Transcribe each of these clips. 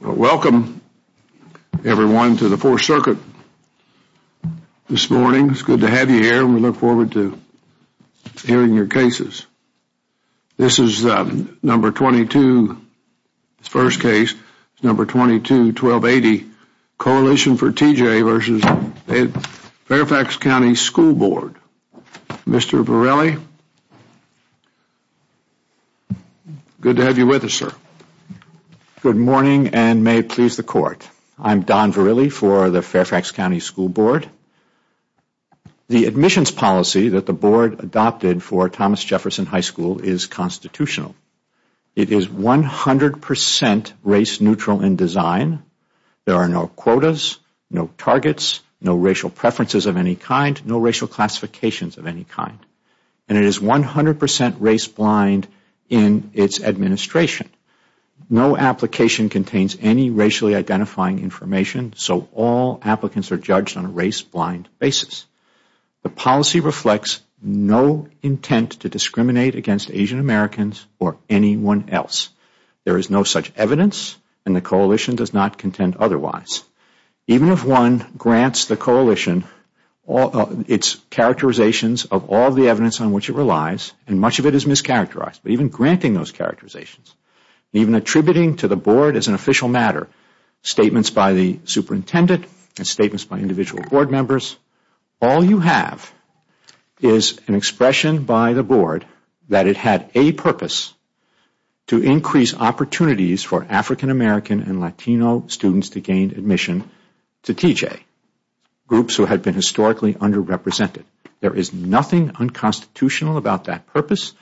Welcome everyone to the 4th Circuit this morning. It's good to have you here and we look forward to hearing your cases. This is number 22, first case, number 22-1280, Coalition for TJ v. Fairfax County School Board. Mr. Varelli, good to have you with us, sir. Good morning and may it please the Court. I am Don Varelli for the Fairfax County School Board. The admissions policy that the Board adopted for Thomas Jefferson High School is constitutional. It is 100 percent race neutral in design. There are no quotas, no targets, no racial preferences of any kind, no racial classifications of any kind. And it is 100 percent race blind in its administration. No application contains any racially identifying information, so all applicants are judged on a race blind basis. The policy reflects no intent to discriminate against Asian Americans or anyone else. There is no such evidence and the Coalition does not contend otherwise. Even if one grants the Coalition its characterizations of all the evidence on which it relies, and much of it is mischaracterized, but even granting those characterizations, even attributing to the Board as an official matter statements by the superintendent and statements by individual Board members, all you have is an expression by the Board that it had a purpose to increase opportunities for African American and Latino students to gain admission to TJ, groups who had been historically underrepresented. There is nothing unconstitutional about that purpose,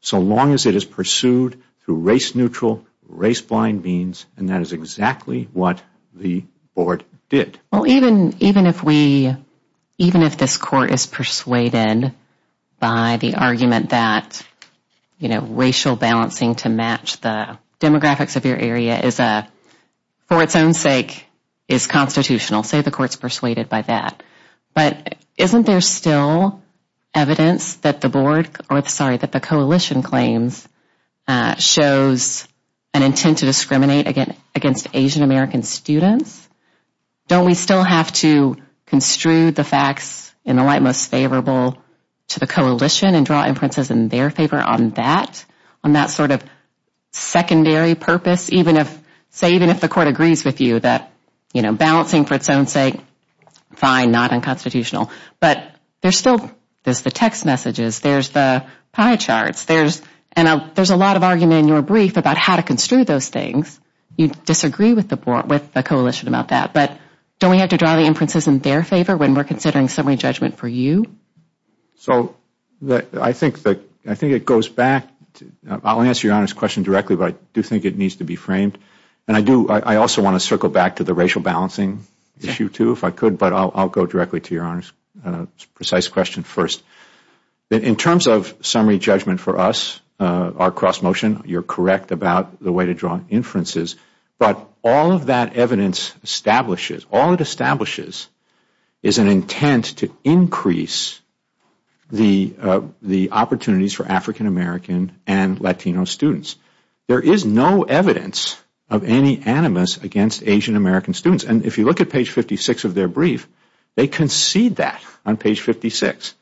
so long as it is pursued through race neutral, race blind means, and that is exactly what the Board did. Even if this Court is persuaded by the argument that racial balancing to match the demographics of your area, for its own sake, is constitutional, say the Court is persuaded by that, but isn't there still a need for the Board to make a decision? Is there still evidence that the Coalition claims shows an intent to discriminate against Asian American students? Don't we still have to construe the facts in the light most favorable to the Coalition and draw inferences in their favor on that? On that sort of secondary purpose, even if the Court agrees with you that balancing for its own sake, fine, not unconstitutional. There are still text messages, pie charts, and there is a lot of argument in your brief about how to construe those things. You disagree with the Coalition about that, but don't we have to draw inferences in their favor when we are considering summary judgment for you? I think it goes back, I will answer your Honor's question directly, but I do think it needs to be framed. I also want to circle back to the racial balancing issue, but I will go directly to your Honor's precise question first. In terms of summary judgment for us, our cross motion, you are correct about the way to draw inferences, but all of that evidence establishes, all it establishes is an intent to increase the opportunities for African American and Latino students. There is no evidence of any animus against Asian American students. If you look at page 56 of their brief, they concede that on page 56.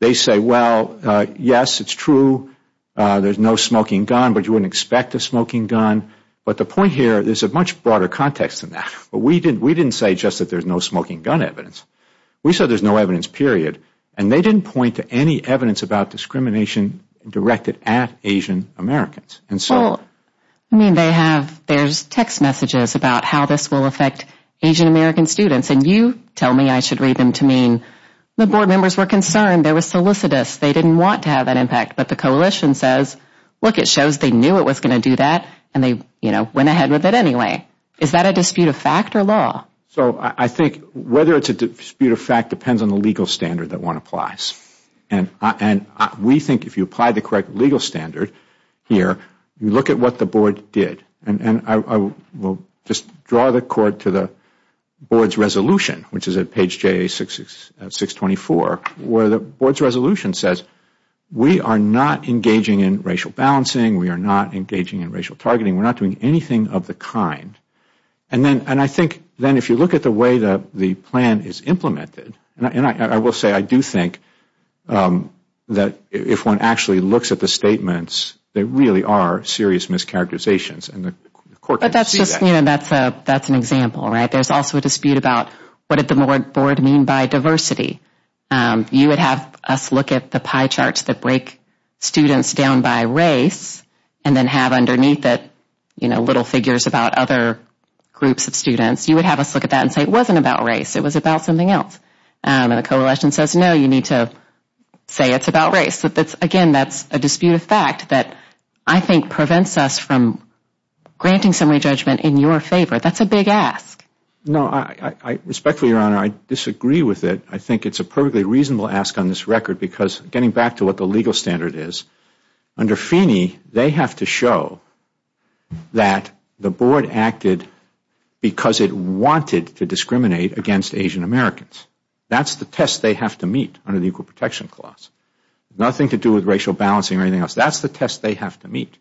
They say, yes, it is true, there is no smoking gun, but you wouldn't expect a smoking gun. The point here is that there is a much broader context than that. We didn't say just that there is no smoking gun evidence, we said there is no evidence, period. They didn't point to any evidence about discrimination directed at Asian Americans. There are text messages about how this will affect Asian American students, and you tell me I should read them to mean the board members were concerned, there were solicitous, they didn't want to have that impact, but the Coalition says, look, it shows they knew it was going to do that and they went ahead with it anyway. Is that a dispute of fact or law? Whether it is a dispute of fact depends on the legal standard that one applies. We think if you apply the correct legal standard, you look at what the board did. I will just draw the court to the board's resolution, which is at page 624, where the board's resolution says, we are not engaging in racial balancing, we are not engaging in racial targeting, we are not doing anything of the kind. If you look at the way the plan is implemented, I will say I do think that if one actually looks at the statements, there really are serious mischaracterizations. That is an example. There is also a dispute about what did the board mean by diversity? You would have us look at the pie charts that break students down by race and then have underneath it little figures about other groups of students. You would have us look at that and say it wasn't about race, it was about something else. The Coalition says, no, you need to say it is about race. Again, that is a dispute of fact that I think prevents us from granting summary judgment in your favor. That is a big ask. Respectfully, Your Honor, I disagree with it. I think it is a perfectly reasonable ask on this record because getting back to what the legal standard is, under Feeney, they have to show that the board acted because it wanted to discriminate against Asian Americans. That is the test they have to meet under the Equal Protection Clause. It has nothing to do with racial balancing or anything else. That is the test they have to meet.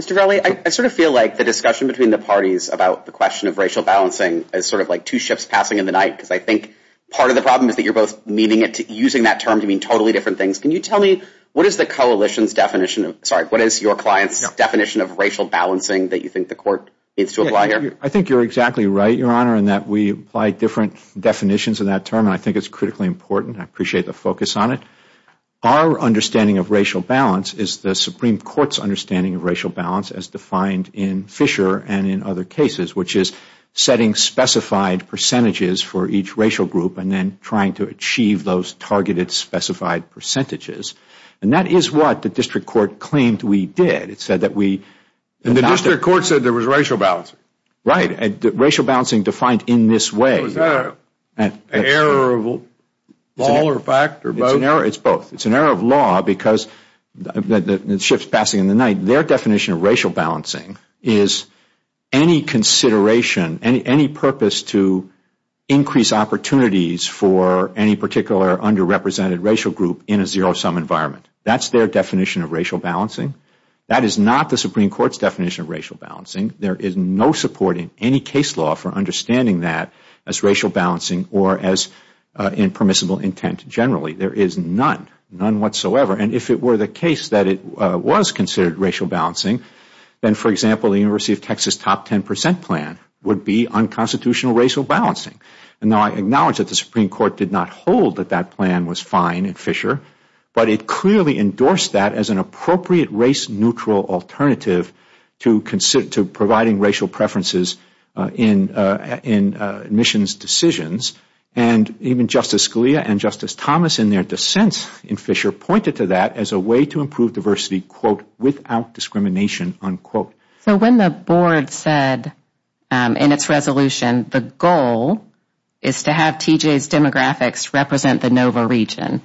Mr. Verli, I sort of feel like the discussion between the parties about the question of racial balancing is sort of like two ships passing in the night. I think part of the problem is that you are both using that term to mean totally different things. Can you tell me what is your client's definition of racial balancing that you think the court needs to apply here? I think you are exactly right, Your Honor, in that we apply different definitions of that term. I think it is critically important. I appreciate the focus on it. Our understanding of racial balance is the Supreme Court's understanding of racial balance as defined in Fisher and in other cases, which is setting specified percentages for each racial group and then trying to achieve those targeted specified percentages. That is what the district court claimed we did. The district court said there was racial balancing. Right. Racial balancing defined in this way. Was that an error of law or fact or both? It is both. It is an error of law because the ships passing in the night, their definition of racial balancing is any consideration, any purpose to increase opportunities for any particular underrepresented racial group in a zero-sum environment. That is their definition of racial balancing. That is not the Supreme Court's definition of racial balancing. There is no support in any case law for understanding that as racial balancing or as impermissible intent generally. There is none, none whatsoever. If it were the case that it was considered racial balancing, then, for example, the University of Texas top 10 percent plan would be unconstitutional racial balancing. I acknowledge that the Supreme Court did not hold that that plan was fine in Fisher, but it clearly endorsed that as an appropriate race-neutral alternative to providing racial preferences in admissions decisions. Even Justice Scalia and Justice Thomas in their dissents in Fisher pointed to that as a way to improve diversity, quote, without discrimination, unquote. When the board said in its resolution the goal is to have TJ's demographics represent the NOVA region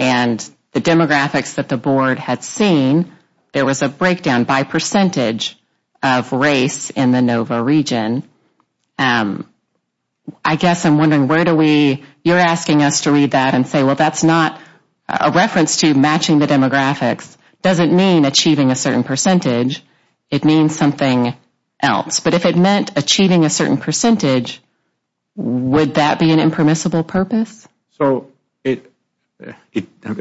and the demographics that the board had seen, there was a breakdown by percentage of race in the NOVA region, I guess I'm wondering where do we, you're asking us to read that and say, well, that's not a reference to matching the demographics. It doesn't mean achieving a certain percentage. It means something else. But if it meant achieving a certain percentage, would that be an impermissible purpose? I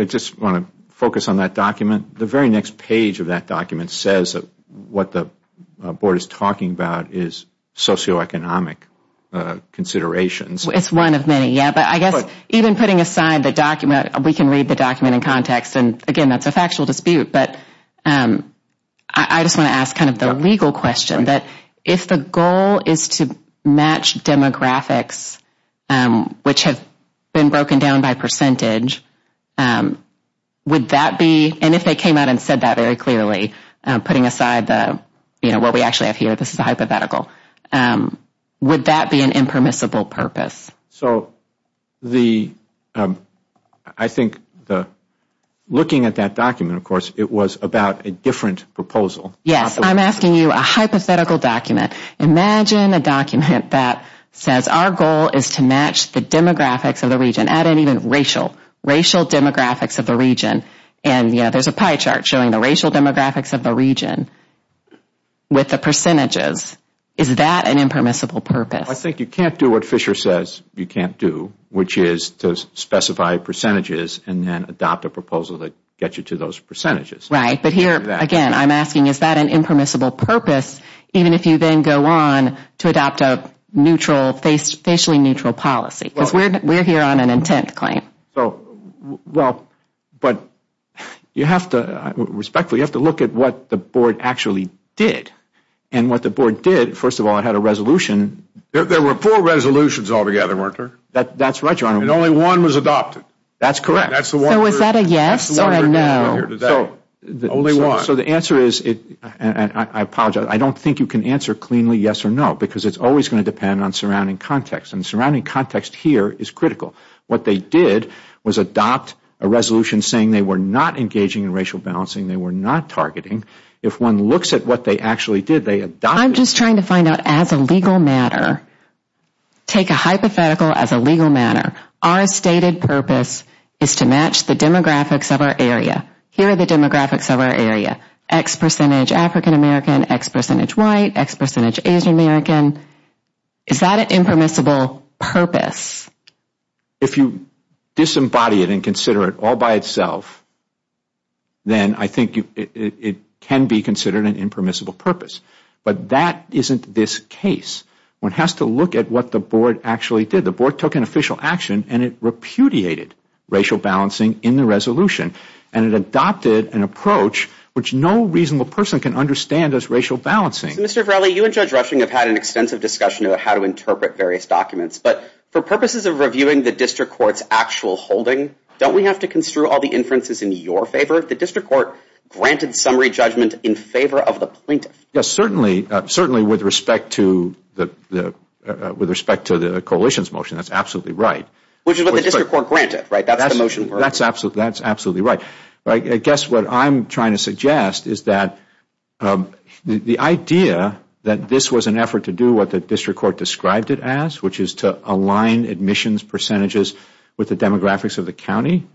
just want to focus on that document. The very next page of that document says what the board is talking about is socioeconomic considerations. It's one of many. I guess even putting aside the document, we can read the document in context. Again, that's a factual dispute. I just want to ask the legal question. If the goal is to match demographics which have been broken down by percentage, would that be, and if they came out and said that very clearly, putting aside what we actually have here, this is a hypothetical, would that be an impermissible purpose? I think looking at that document, of course, it was about a different proposal. I'm asking you a hypothetical document. Imagine a document that says our goal is to match the demographics of the region, add in even racial demographics of the region, and there's a pie chart showing the racial demographics of the region with the percentages. Is that an impermissible purpose? I think you can't do what Fisher says you can't do, which is to specify percentages and then adopt a proposal that gets you to those percentages. Right. But here, again, I'm asking, is that an impermissible purpose, even if you then go on to adopt a neutrally, facially neutral policy? Because we're here on an intent claim. Respectfully, you have to look at what the board actually did. And what the board did, first of all, it had a resolution. There were four resolutions altogether, weren't there? That's right, Your Honor. And only one was adopted. That's correct. So is that a yes or a no? Only one. So the answer is, and I apologize, I don't think you can answer cleanly yes or no, because it's always going to depend on surrounding context. And surrounding context here is critical. What they did was adopt a resolution saying they were not engaging in racial balancing, they were not targeting. If one looks at what they actually did, they adopted it. I'm just trying to find out as a legal matter. Take a hypothetical as a legal matter. Our stated purpose is to match the demographics of our area. Here are the demographics of our area. X percentage African American, X percentage white, X percentage Asian American. Is that an impermissible purpose? If you disembody it and consider it all by itself, then I think it can be considered an impermissible purpose. But that isn't this case. One has to look at what the Board actually did. The Board took an official action and it repudiated racial balancing in the resolution. And it adopted an approach which no reasonable person can understand as racial balancing. Mr. Varelli, you and Judge Rushing have had an extensive discussion about how to interpret various documents. But for purposes of reviewing the district court's actual holding, don't we have to construe all the inferences in your favor? The district court granted summary judgment in favor of the plaintiff. Yes, certainly. Certainly with respect to the coalition's motion, that's absolutely right. Which is what the district court granted, right? That's the motion. That's absolutely right. I guess what I'm trying to suggest is that the idea that this was an effort to do what the district court described it as, which is to align admissions percentages with the demographics of the county,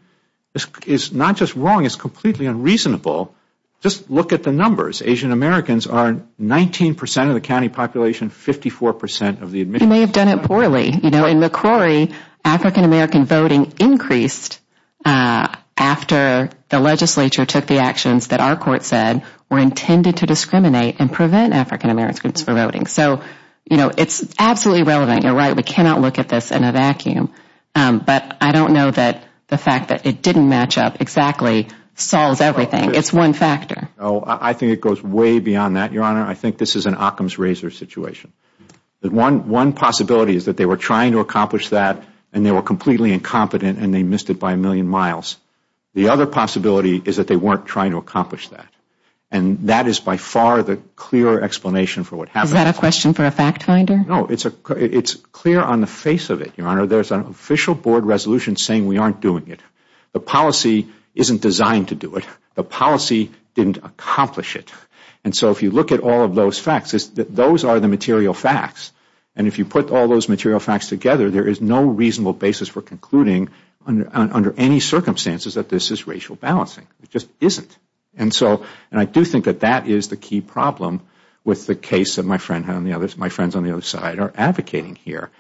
is not just wrong, it's completely unreasonable. Just look at the numbers. Asian Americans are 19 percent of the county population, 54 percent of the admissions. They may have done it poorly. In McCrory, African American voting increased after the legislature took the actions that our court said were intended to discriminate and prevent African American groups from voting. So it's absolutely relevant. You're right, we cannot look at this in a vacuum. But I don't know that the fact that it didn't match up exactly solves everything. It's one factor. I think it goes way beyond that, Your Honor. I think this is an Occam's razor situation. One possibility is that they were trying to accomplish that and they were completely incompetent and they missed it by a million miles. The other possibility is that they weren't trying to accomplish that. That is by far the clearer explanation for what happened. Is that a question for a fact finder? No, it's clear on the face of it, Your Honor. There is an official board resolution saying we aren't doing it. The policy isn't designed to do it. The policy didn't accomplish it. So if you look at all of those facts, those are the material facts. If you put all those material facts together, there is no reasonable basis for concluding under any circumstances that this is racial balancing. It just isn't. I do think that that is the key problem with the case that my friends on the other side are advocating here.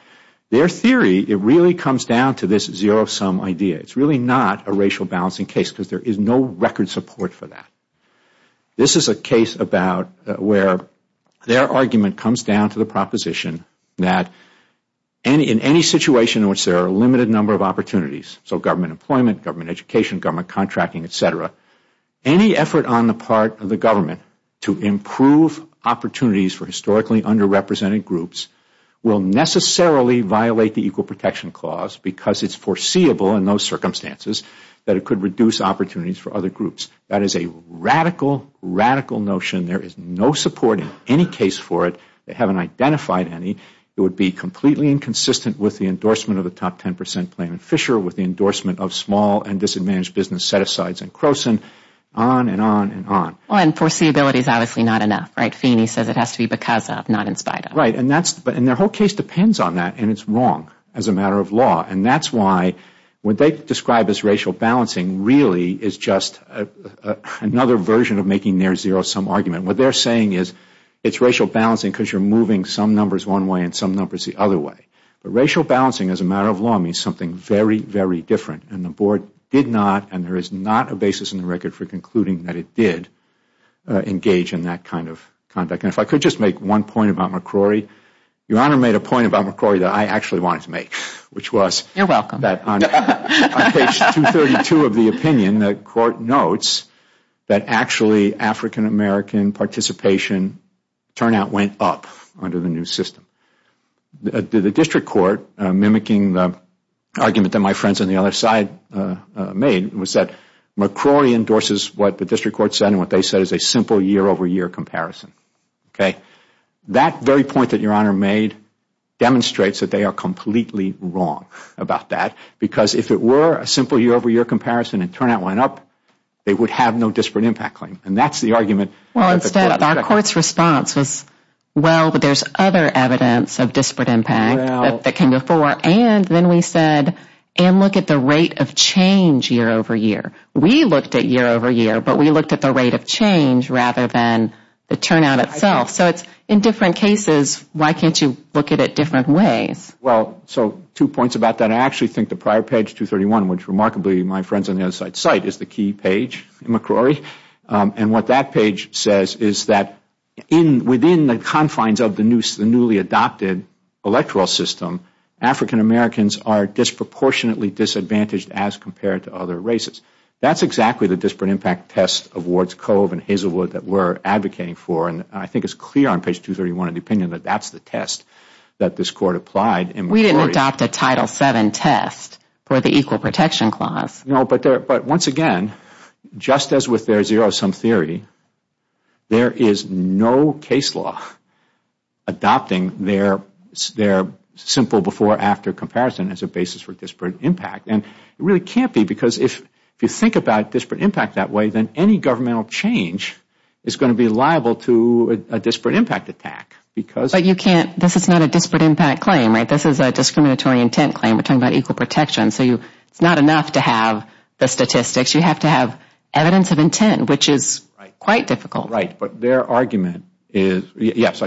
Their theory really comes down to this zero-sum idea. It's really not a racial balancing case because there is no record support for that. This is a case where their argument comes down to the proposition that in any situation in which there are a limited number of opportunities, so government employment, government education, government contracting, et cetera, any effort on the part of the government to improve opportunities for historically underrepresented groups will necessarily violate the Equal Protection Clause because it is foreseeable in those circumstances that it could reduce opportunities for other groups. That is a radical, radical notion. There is no support in any case for it. They haven't identified any. It would be completely inconsistent with the endorsement of the top 10 percent plan in Fisher, with the endorsement of small and disadvantaged business set-asides in Croson, on and on and on. Well, foreseeability is obviously not enough. Feeney says it has to be because of, not in spite of. Right. Their whole case depends on that and it is wrong as a matter of law. That is why what they describe as racial balancing really is just another version of making their zero-sum argument. What they are saying is it is racial balancing because you are moving some numbers one way and some numbers the other way. Racial balancing, as a matter of law, means something very, very different. The Board did not and there is not a basis in the record for concluding that it did engage in that kind of conduct. If I could just make one point about McCrory. Your Honor made a point about McCrory that I actually wanted to make. You are welcome. On page 232 of the opinion, the Court notes that actually African-American participation turnout went up under the new system. The District Court, mimicking the argument that my friends on the other side made, was that McCrory endorses what the District Court said and what they said is a simple year over year comparison. That very point that Your Honor made demonstrates that they are completely wrong about that because if it were a simple year over year comparison and turnout went up, they would have no disparate impact claim. That is the argument. Our Court's response was, well, but there is other evidence of disparate impact that came before. Then we said, and look at the rate of change year over year. We looked at year over year, but we looked at the rate of change rather than the turnout itself. In different cases, why can't you look at it different ways? Two points about that. I actually think the prior page 231, which remarkably my friends on the other side cite, is the key page in McCrory. What that page says is that within the confines of the newly adopted electoral system, African-Americans are disproportionately disadvantaged as compared to other races. That is exactly the disparate impact test of Wards Cove and Hazelwood that we are advocating for. I think it is clear on page 231 in the opinion that that is the test that this Court applied. We didn't adopt a Title VII test for the Equal Protection Clause. Once again, just as with their zero-sum theory, there is no case law adopting their simple before, after comparison as a basis for disparate impact. It really can't be because if you think about disparate impact that way, then any governmental change is going to be liable to a disparate impact attack. This is not a disparate impact claim. This is a discriminatory intent claim. We are talking about equal protection. It is not enough to have the statistics. You have to have evidence of intent, which is quite difficult. Their argument is that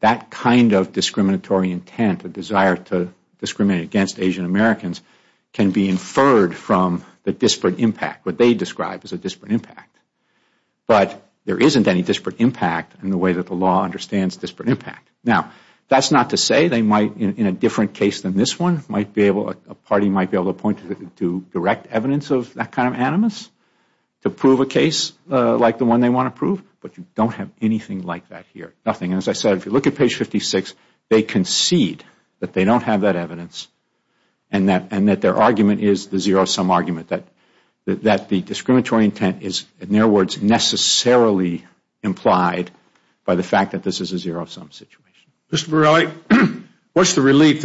that kind of discriminatory intent, the desire to discriminate against Asian-Americans, can be inferred from the disparate impact. What they describe is a disparate impact. But there isn't any disparate impact in the way that the law understands disparate impact. That is not to say they might, in a different case than this one, a party might be able to point to direct evidence of that kind of animus to prove a case like the one they want to prove, but you don't have anything like that here. As I said, if you look at page 56, they concede that they don't have that evidence and that their argument is the zero-sum argument, that the discriminatory intent is, in their words, necessarily implied by the fact that this is a zero-sum situation. We want you to reverse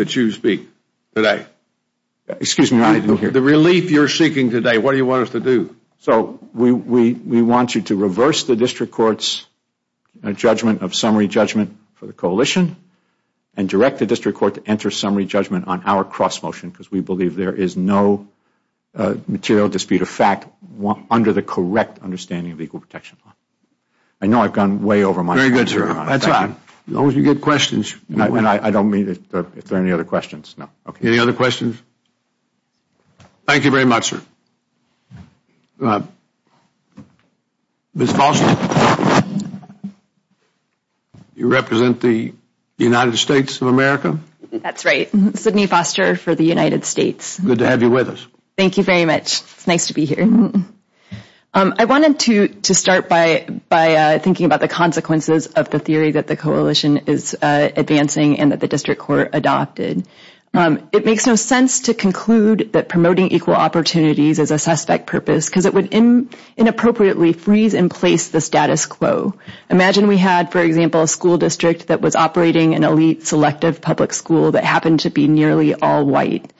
the District Court's judgment of summary judgment for the Coalition and direct the District Court to enter summary judgment on our cross-motion because we believe there is no material dispute of fact under the correct understanding of the Equal Protection Law. I know I have gone way over my time. That is fine. As long as you get questions. I don't mean if there are any other questions. Any other questions? Thank you very much, sir. Ms. Foster, you represent the United States of America? That is right. Sidney Foster for the United States. Good to have you with us. Thank you very much. It is nice to be here. I wanted to start by thinking about the consequences of the theory that the Coalition is advancing and that the District Court adopted. It makes no sense to conclude that promoting equal opportunities is a suspect purpose because it would inappropriately freeze in place the status quo. Imagine we had, for example, a school district that was operating an elite, selective public school that happened to be nearly all white.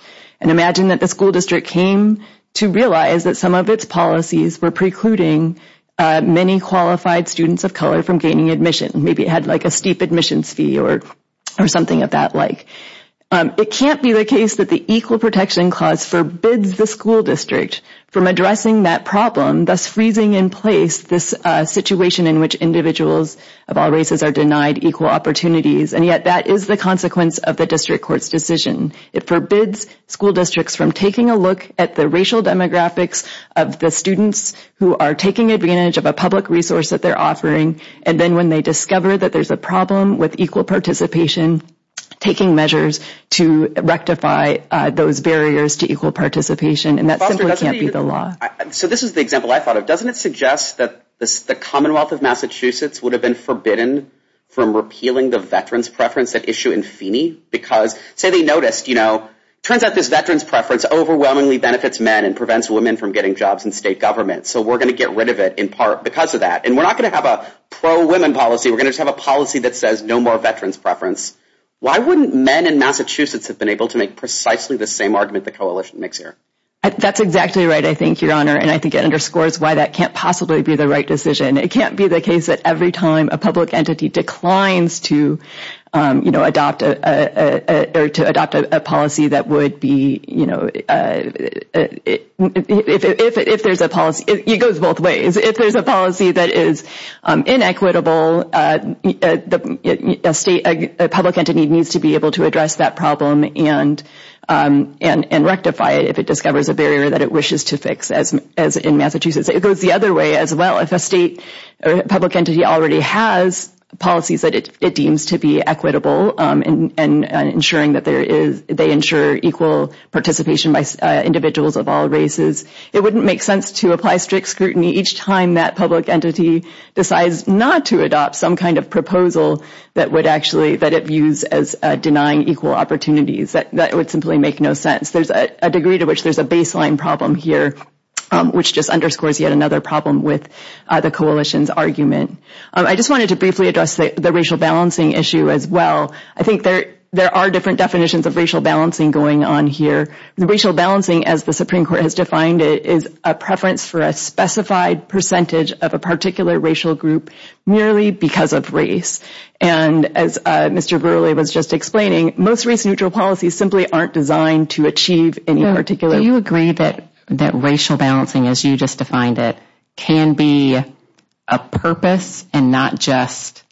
Imagine that the school district came to realize that some of its policies were precluding many qualified students of color from gaining admission. Maybe it had a steep admissions fee or something of that like. It can't be the case that the Equal Protection Clause forbids the school district from addressing that problem, thus freezing in place this situation in which individuals of all races are denied equal opportunities. Yet, that is the consequence of the District Court's decision. It forbids school districts from taking a look at the racial demographics of the students who are taking advantage of a public resource that they're offering. Then, when they discover that there's a problem with equal participation, taking measures to rectify those barriers to equal participation. That simply can't be the law. This is the example I thought of. Doesn't it suggest that the Commonwealth of Massachusetts would have been forbidden from repealing the veterans' preference at issue in Feeney? Because, say they noticed, you know, turns out this veterans' preference overwhelmingly benefits men and prevents women from getting jobs in state government. So, we're going to get rid of it in part because of that. And we're not going to have a pro-women policy. We're going to just have a policy that says no more veterans' preference. Why wouldn't men in Massachusetts have been able to make precisely the same argument the coalition makes here? That's exactly right, I think, Your Honor. And I think it underscores why that can't possibly be the right decision. It can't be the case that every time a public entity declines to, you know, adopt a policy that would be, you know, if there's a policy, it goes both ways. If there's a policy that is inequitable, a state, a public entity needs to be able to address that problem and rectify it if it discovers a barrier that it wishes to fix, as in Massachusetts. It goes the other way as well. If a state or public entity already has policies that it deems to be equitable and ensuring that they ensure equal participation by individuals of all races, it wouldn't make sense to apply strict scrutiny each time that public entity decides not to adopt some kind of proposal that it views as denying equal opportunities. That would simply make no sense. There's a degree to which there's a baseline problem here, which just underscores yet another problem with the coalition's argument. I just wanted to briefly address the racial balancing issue as well. I think there are different definitions of racial balancing going on here. Racial balancing, as the Supreme Court has defined it, is a preference for a specified percentage of a particular racial group merely because of race. And as Mr. Gurley was just explaining, most race-neutral policies simply aren't designed to achieve any particular... Do you agree that racial balancing, as you just defined it, can be a purpose and not just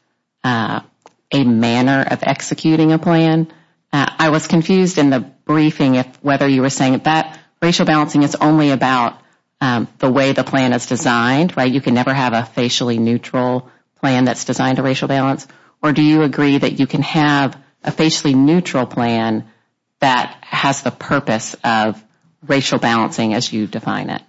a manner of executing a plan? I was confused in the briefing whether you were saying that racial balancing is only about the way the plan is designed, right? You can never have a facially neutral plan that's designed to racial balance. Or do you agree that you can have a facially neutral plan that has the purpose of racial balancing as you define it?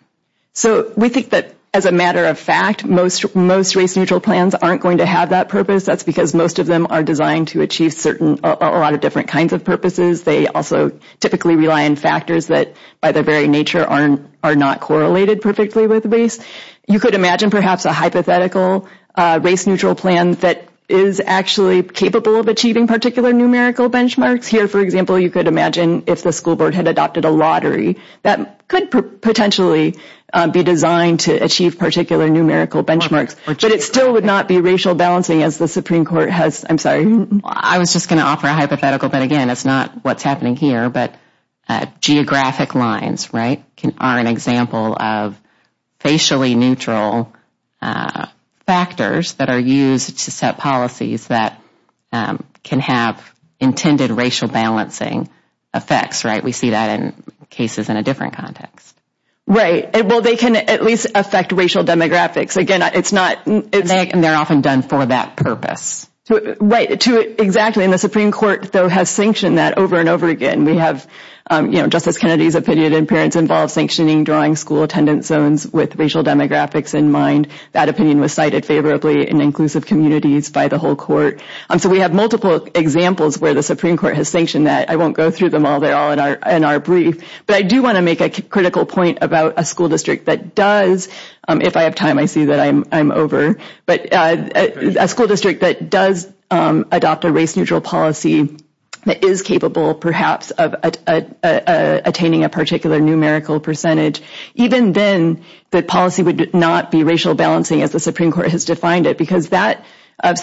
So we think that, as a matter of fact, most race-neutral plans aren't going to have that purpose. That's because most of them are designed to achieve a lot of different kinds of purposes. They also typically rely on factors that, by their very nature, are not correlated perfectly with race. You could imagine perhaps a hypothetical race-neutral plan that is actually capable of achieving particular numerical benchmarks. Here, for example, you could imagine if the school board had adopted a lottery that could potentially be designed to achieve particular numerical benchmarks. But it still would not be racial balancing as the Supreme Court has... I was just going to offer a hypothetical, but again, it's not what's happening here. Geographic lines are an example of facially neutral factors that are used to set policies that can have intended racial balancing effects. We see that in cases in a different context. Right. Well, they can at least affect racial demographics. Again, it's not... And they're often done for that purpose. Right. Exactly. And the Supreme Court, though, has sanctioned that over and over again. Justice Kennedy's opinion in parents involves sanctioning drawing school attendance zones with racial demographics in mind. That opinion was cited favorably in inclusive communities by the whole court. So we have multiple examples where the Supreme Court has sanctioned that. I won't go through them all. They're all in our brief. But I do want to make a critical point about a school district that does... If I have time, I see that I'm over. But a school district that does adopt a race-neutral policy is capable, perhaps, of attaining a particular numerical percentage. Even then, the policy would not be racial balancing as the Supreme Court has defined it because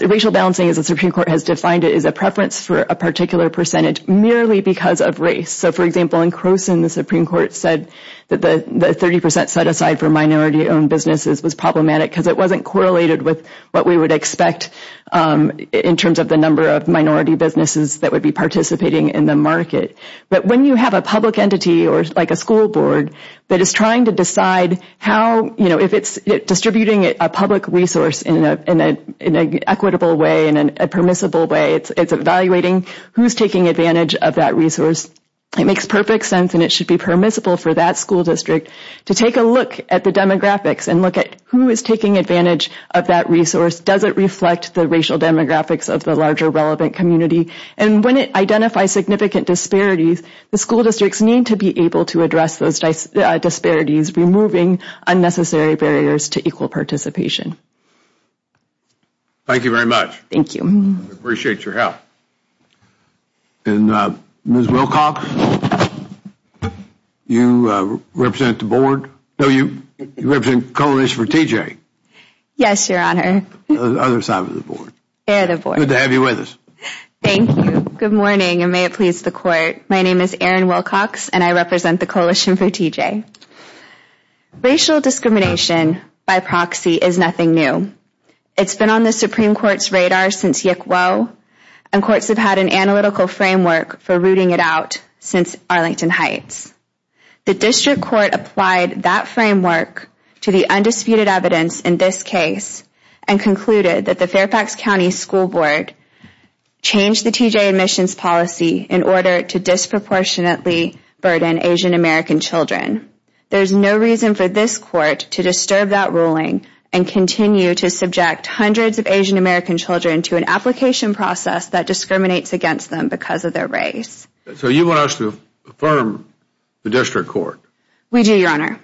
racial balancing, as the Supreme Court has defined it, is a preference for a particular percentage merely because of race. So, for example, in Croson, the Supreme Court said that the 30% set aside for minority-owned businesses was problematic because it wasn't correlated with what we would expect in terms of the number of minority businesses that would be participating in the market. But when you have a public entity, like a school board, that is trying to decide how, if it's distributing a public resource in an equitable way, in a permissible way, it's evaluating who's taking advantage of that resource. It makes perfect sense, and it should be permissible for that school district to take a look at the demographics and look at who is taking advantage of that resource. Does it reflect the racial demographics of the larger relevant community? And when it identifies significant disparities, the school districts need to be able to address those disparities, removing unnecessary barriers to equal participation. Thank you very much. Thank you. I appreciate your help. And Ms. Wilcox, you represent the board? No, you represent Coalition for TJ. Yes, Your Honor. The other side of the board. Good to have you with us. Thank you. Good morning, and may it please the Court. My name is Erin Wilcox, and I represent the Coalition for TJ. Racial discrimination by proxy is nothing new. It's been on the Supreme Court's radar since Yick Woe, and courts have had an analytical framework for rooting it out since Arlington Heights. The district court applied that framework to the undisputed evidence in this case and concluded that the Fairfax County School Board changed the TJ admissions policy in order to disproportionately burden Asian American children. There is no reason for this court to disturb that ruling and continue to subject hundreds of Asian American children to an application process that discriminates against them because of their race. So you want us to affirm the district court? We do, Your Honor.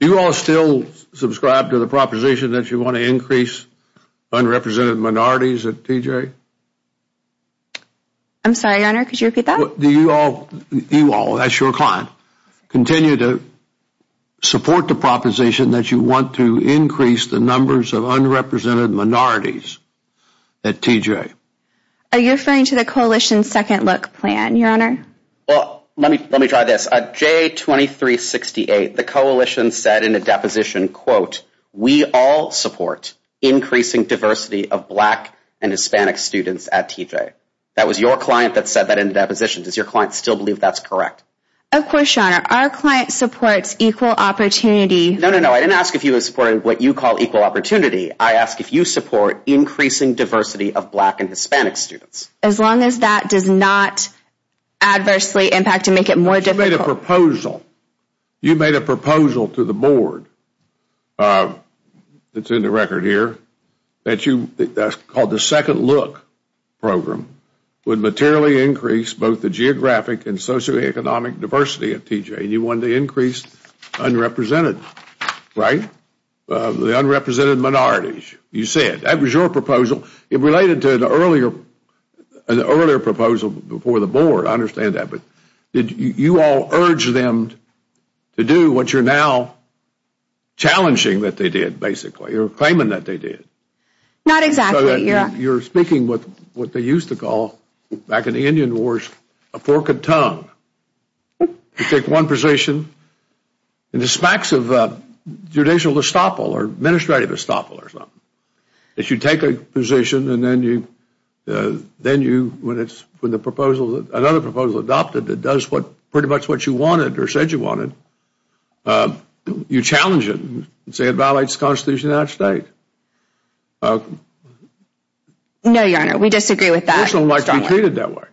Do you all still subscribe to the proposition that you want to increase unrepresented minorities at TJ? I'm sorry, Your Honor, could you repeat that? Do you all, that's your client, continue to support the proposition that you want to increase the numbers of unrepresented minorities at TJ? Are you referring to the Coalition's second look plan, Your Honor? Well, let me try this. At J2368, the Coalition said in a deposition, quote, we all support increasing diversity of black and Hispanic students at TJ. That was your client that said that in a deposition. Does your client still believe that's correct? Of course, Your Honor. Our client supports equal opportunity. No, no, no. I didn't ask if you supported what you call equal opportunity. I asked if you support increasing diversity of black and Hispanic students. As long as that does not adversely impact and make it more difficult. You made a proposal. You made a proposal to the board. It's in the record here. That's called the second look program. Would materially increase both the geographic and socioeconomic diversity at TJ. You wanted to increase unrepresented, right? The unrepresented minorities, you said. That was your proposal. It related to an earlier proposal before the board. I understand that. But did you all urge them to do what you're now challenging that they did, basically, or claiming that they did? Not exactly, Your Honor. You're speaking with what they used to call, back in the Indian Wars, a fork of tongue. You take one position and the smacks of judicial estoppel or administrative estoppel or something. If you take a position and then you, when another proposal is adopted that does pretty much what you wanted or said you wanted, you challenge it and say it violates the Constitution of the United States. No, Your Honor. We disagree with that. We don't like to be treated that way.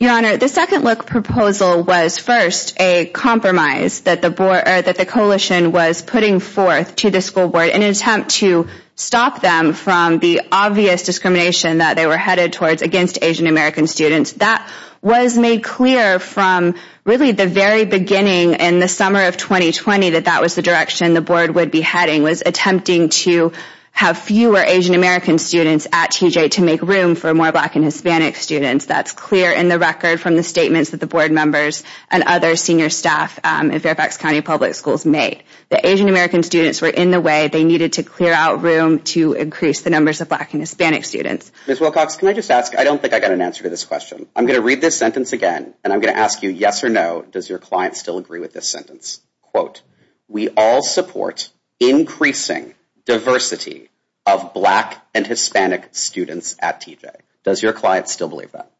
Your Honor, the second look proposal was first a compromise that the coalition was putting forth to the school board in an attempt to stop them from the obvious discrimination that they were headed towards against Asian American students. That was made clear from, really, the very beginning in the summer of 2020, that that was the direction the board would be heading, was attempting to have fewer Asian American students at TJ to make room for more black and Hispanic students. That's clear in the record from the statements that the board members and other senior staff in Fairfax County Public Schools made. The Asian American students were in the way. They needed to clear out room to increase the numbers of black and Hispanic students. Ms. Wilcox, can I just ask? I don't think I got an answer to this question. I'm going to read this sentence again, and I'm going to ask you yes or no. Does your client still agree with this sentence? Quote, we all support increasing diversity of black and Hispanic students at TJ. Does your client still believe that?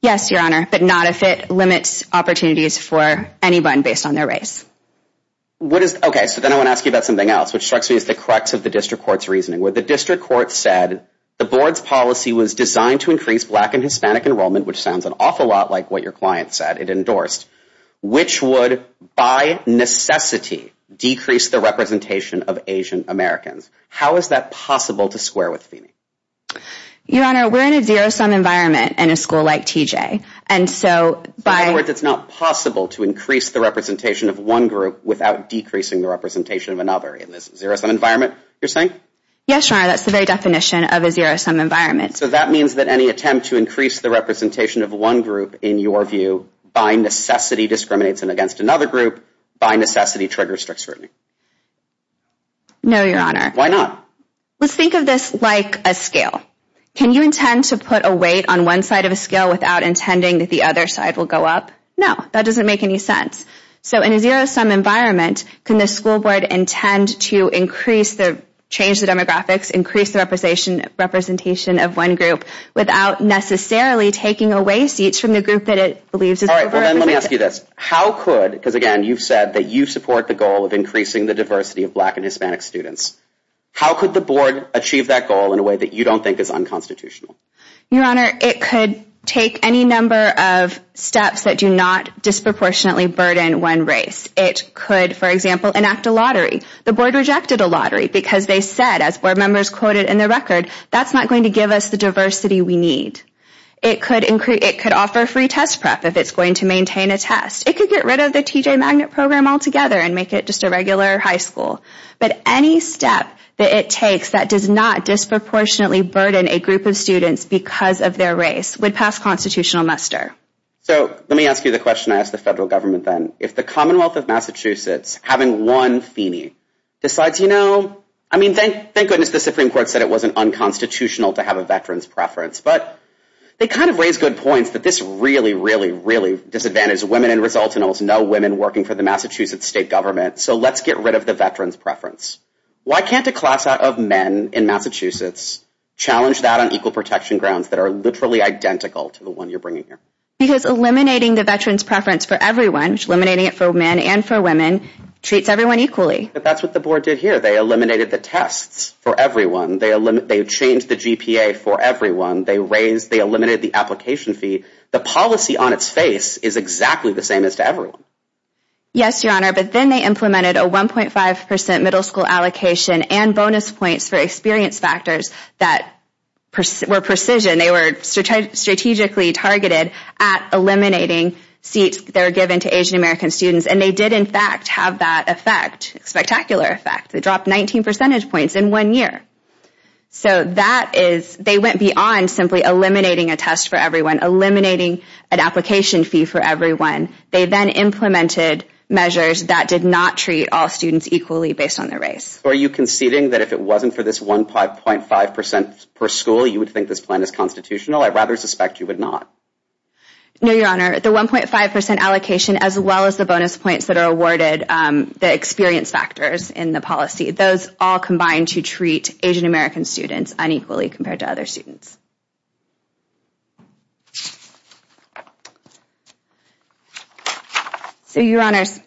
Yes, Your Honor, but not if it limits opportunities for anyone based on their race. Okay, so then I want to ask you about something else, which strikes me as the crux of the district court's reasoning. Where the district court said the board's policy was designed to increase black and Hispanic enrollment, which sounds an awful lot like what your client said it endorsed, which would, by necessity, decrease the representation of Asian Americans. How is that possible to square with Phoenix? Your Honor, we're in a zero-sum environment in a school like TJ. In other words, it's not possible to increase the representation of one group without decreasing the representation of another in this zero-sum environment, you're saying? Yes, Your Honor, that's the very definition of a zero-sum environment. So that means that any attempt to increase the representation of one group, in your view, by necessity discriminates against another group, by necessity triggers strict scrutiny. No, Your Honor. Why not? Let's think of this like a scale. Can you intend to put a weight on one side of a scale without intending that the other side will go up? No, that doesn't make any sense. So in a zero-sum environment, can the school board intend to change the demographics, increase the representation of one group, without necessarily taking away seats from the group that it believes is overrepresented? Let me ask you this. How could, because again, you've said that you support the goal of increasing the diversity of black and Hispanic students. How could the board achieve that goal in a way that you don't think is unconstitutional? Your Honor, it could take any number of steps that do not disproportionately burden one race. It could, for example, enact a lottery. The board rejected a lottery because they said, as board members quoted in the record, that's not going to give us the diversity we need. It could offer free test prep if it's going to maintain a test. It could get rid of the TJ Magnet program altogether and make it just a regular high school. But any step that it takes that does not disproportionately burden a group of students because of their race would pass constitutional muster. So let me ask you the question I asked the federal government then. If the Commonwealth of Massachusetts, having one Feeney, decides, you know, I mean, thank goodness the Supreme Court said it wasn't unconstitutional to have a veteran's preference. But they kind of raise good points that this really, really, really disadvantages women and results in almost no women working for the Massachusetts state government. So let's get rid of the veteran's preference. Why can't a class of men in Massachusetts challenge that on equal protection grounds that are literally identical to the one you're bringing here? Because eliminating the veteran's preference for everyone, eliminating it for men and for women, treats everyone equally. But that's what the board did here. They eliminated the tests for everyone. They changed the GPA for everyone. They raised, they eliminated the application fee. The policy on its face is exactly the same as to everyone. Yes, Your Honor, but then they implemented a 1.5% middle school allocation and bonus points for experience factors that were precision. They were strategically targeted at eliminating seats that were given to Asian American students. And they did, in fact, have that effect, spectacular effect. They dropped 19 percentage points in one year. So that is, they went beyond simply eliminating a test for everyone, eliminating an application fee for everyone. They then implemented measures that did not treat all students equally based on their race. Are you conceding that if it wasn't for this 1.5% per school, you would think this plan is constitutional? I rather suspect you would not. No, Your Honor. The 1.5% allocation as well as the bonus points that are awarded, the experience factors in the policy, those all combine to treat Asian American students unequally compared to other students. So, Your Honors,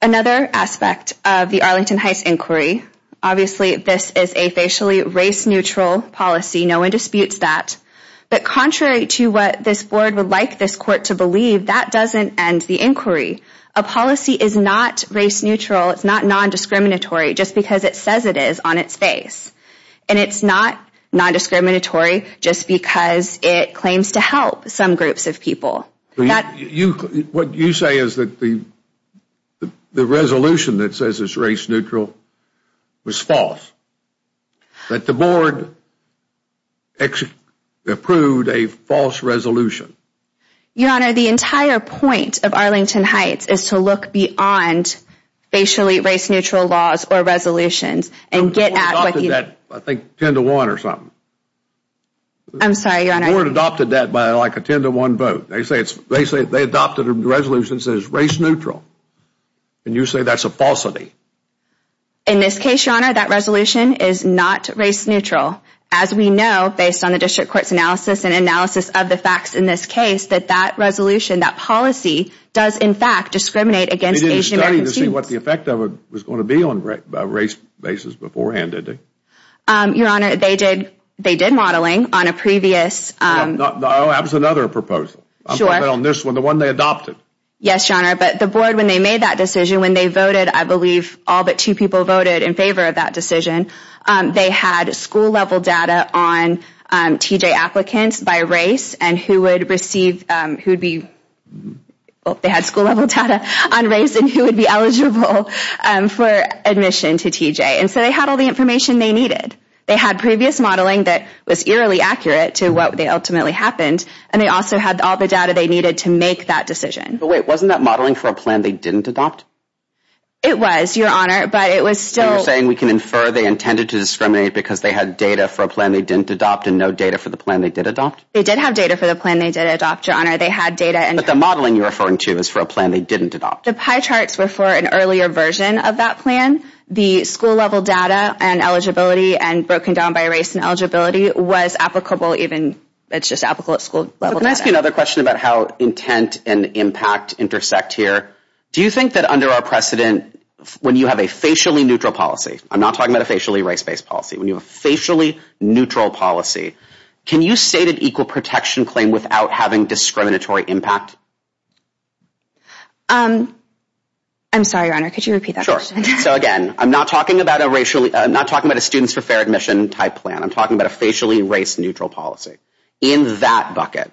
another aspect of the Arlington Heights inquiry, obviously this is a facially race-neutral policy. No one disputes that. But contrary to what this board would like this court to believe, that doesn't end the inquiry. A policy is not race-neutral. It's not non-discriminatory just because it says it is on its face. And it's not non-discriminatory just because it claims to help some groups of people. What you say is that the resolution that says it's race-neutral was false. That the board approved a false resolution. Your Honor, the entire point of Arlington Heights is to look beyond facially race-neutral laws or resolutions and get at what you... The board adopted that, I think, 10 to 1 or something. I'm sorry, Your Honor. The board adopted that by like a 10 to 1 vote. They say they adopted a resolution that says race-neutral. And you say that's a falsity. In this case, Your Honor, that resolution is not race-neutral. As we know, based on the district court's analysis and analysis of the facts in this case, that that resolution, that policy, does in fact discriminate against Asian-American students. They didn't study to see what the effect of it was going to be on race basis beforehand, did they? Your Honor, they did modeling on a previous... No, that was another proposal. I'm talking about on this one, the one they adopted. Yes, Your Honor, but the board, when they made that decision, when they voted, I believe all but two people voted in favor of that decision, they had school-level data on TJ applicants by race and who would receive, who would be, they had school-level data on race and who would be eligible for admission to TJ. And so they had all the information they needed. They had previous modeling that was eerily accurate to what ultimately happened, and they also had all the data they needed to make that decision. But wait, wasn't that modeling for a plan they didn't adopt? It was, Your Honor, but it was still... The modeling we can infer they intended to discriminate because they had data for a plan they didn't adopt and no data for the plan they did adopt? They did have data for the plan they did adopt, Your Honor. They had data and... But the modeling you're referring to is for a plan they didn't adopt. The pie charts were for an earlier version of that plan. The school-level data and eligibility and broken down by race and eligibility was applicable even, it's just applicable at school-level data. Can I ask you another question about how intent and impact intersect here? Do you think that under our precedent, when you have a facially neutral policy, I'm not talking about a facially race-based policy, when you have a facially neutral policy, can you state an equal protection claim without having discriminatory impact? I'm sorry, Your Honor, could you repeat that question? So again, I'm not talking about a students for fair admission type plan. I'm talking about a facially race-neutral policy. In that bucket,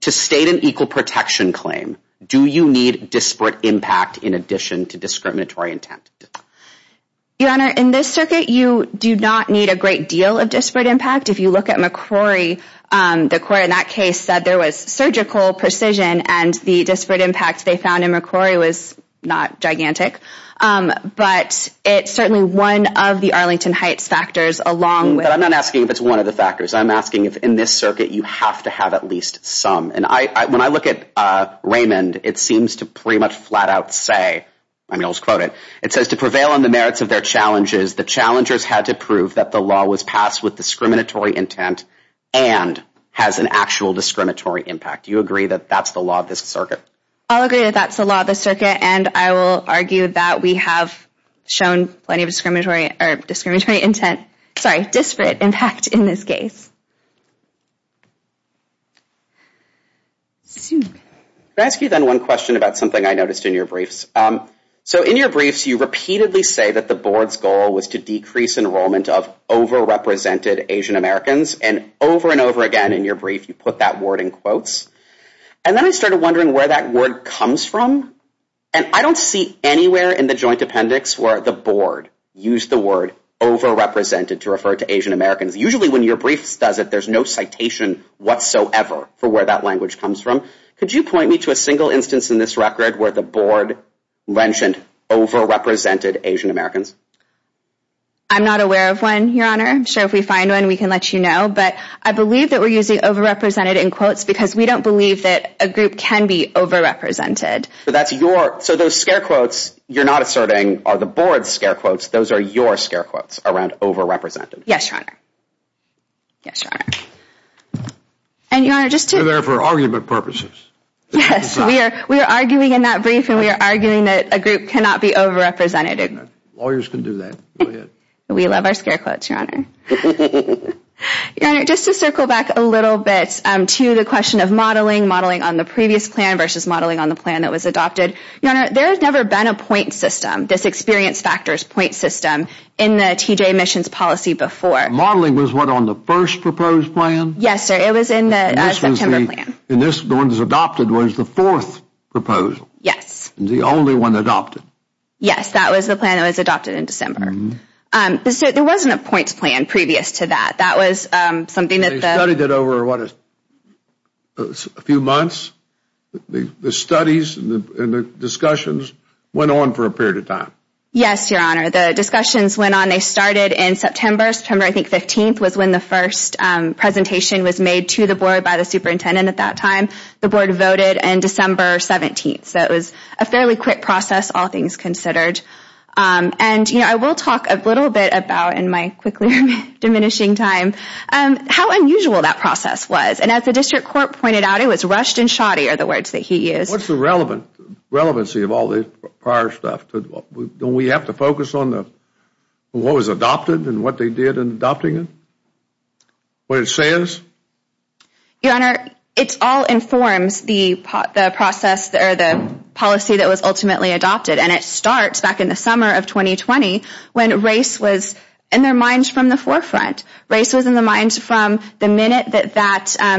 to state an equal protection claim, do you need disparate impact in addition to discriminatory intent? Your Honor, in this circuit, you do not need a great deal of disparate impact. If you look at McCrory, the court in that case said there was surgical precision and the disparate impact they found in McCrory was not gigantic. But it's certainly one of the Arlington Heights factors along with... I'm not asking if it's one of the factors. I'm asking if in this circuit you have to have at least some. And when I look at Raymond, it seems to pretty much flat out say, I mean, I'll just quote it. It says, to prevail on the merits of their challenges, the challengers had to prove that the law was passed with discriminatory intent and has an actual discriminatory impact. Do you agree that that's the law of this circuit? I'll agree that that's the law of this circuit, and I will argue that we have shown plenty of discriminatory intent, sorry, disparate impact in this case. Can I ask you then one question about something I noticed in your briefs? So in your briefs, you repeatedly say that the board's goal was to decrease enrollment of overrepresented Asian Americans. And over and over again in your brief, you put that word in quotes. And then I started wondering where that word comes from. And I don't see anywhere in the joint appendix where the board used the word overrepresented to refer to Asian Americans. Usually when your briefs does it, there's no citation whatsoever for where that language comes from. Could you point me to a single instance in this record where the board mentioned overrepresented Asian Americans? I'm not aware of one, Your Honor. I'm sure if we find one, we can let you know. But I believe that we're using overrepresented in quotes because we don't believe that a group can be overrepresented. So that's your, so those scare quotes you're not asserting are the board's scare quotes. Those are your scare quotes around overrepresented. Yes, Your Honor. Yes, Your Honor. And Your Honor, just to... You're there for argument purposes. Yes, we are arguing in that brief and we are arguing that a group cannot be overrepresented. Lawyers can do that. Go ahead. We love our scare quotes, Your Honor. Your Honor, just to circle back a little bit to the question of modeling, modeling on the previous plan versus modeling on the plan that was adopted. Your Honor, there has never been a point system. This experience factors point system in the TJ emissions policy before. Modeling was what, on the first proposed plan? Yes, sir. It was in the September plan. And this, the one that was adopted was the fourth proposal? Yes. And the only one adopted? Yes, that was the plan that was adopted in December. There wasn't a points plan previous to that. That was something that the... They studied it over, what, a few months? The studies and the discussions went on for a period of time? Yes, Your Honor. The discussions went on. They started in September. September, I think, 15th was when the first presentation was made to the board by the superintendent at that time. The board voted in December 17th. So it was a fairly quick process, all things considered. And, you know, I will talk a little bit about, in my quickly diminishing time, how unusual that process was. And as the district court pointed out, it was rushed and shoddy are the words that he used. What's the relevancy of all this prior stuff? Don't we have to focus on what was adopted and what they did in adopting it? What it says? Your Honor, it all informs the process, or the policy that was ultimately adopted. And it starts back in the summer of 2020 when race was in their minds from the forefront. Race was in the minds from the minute that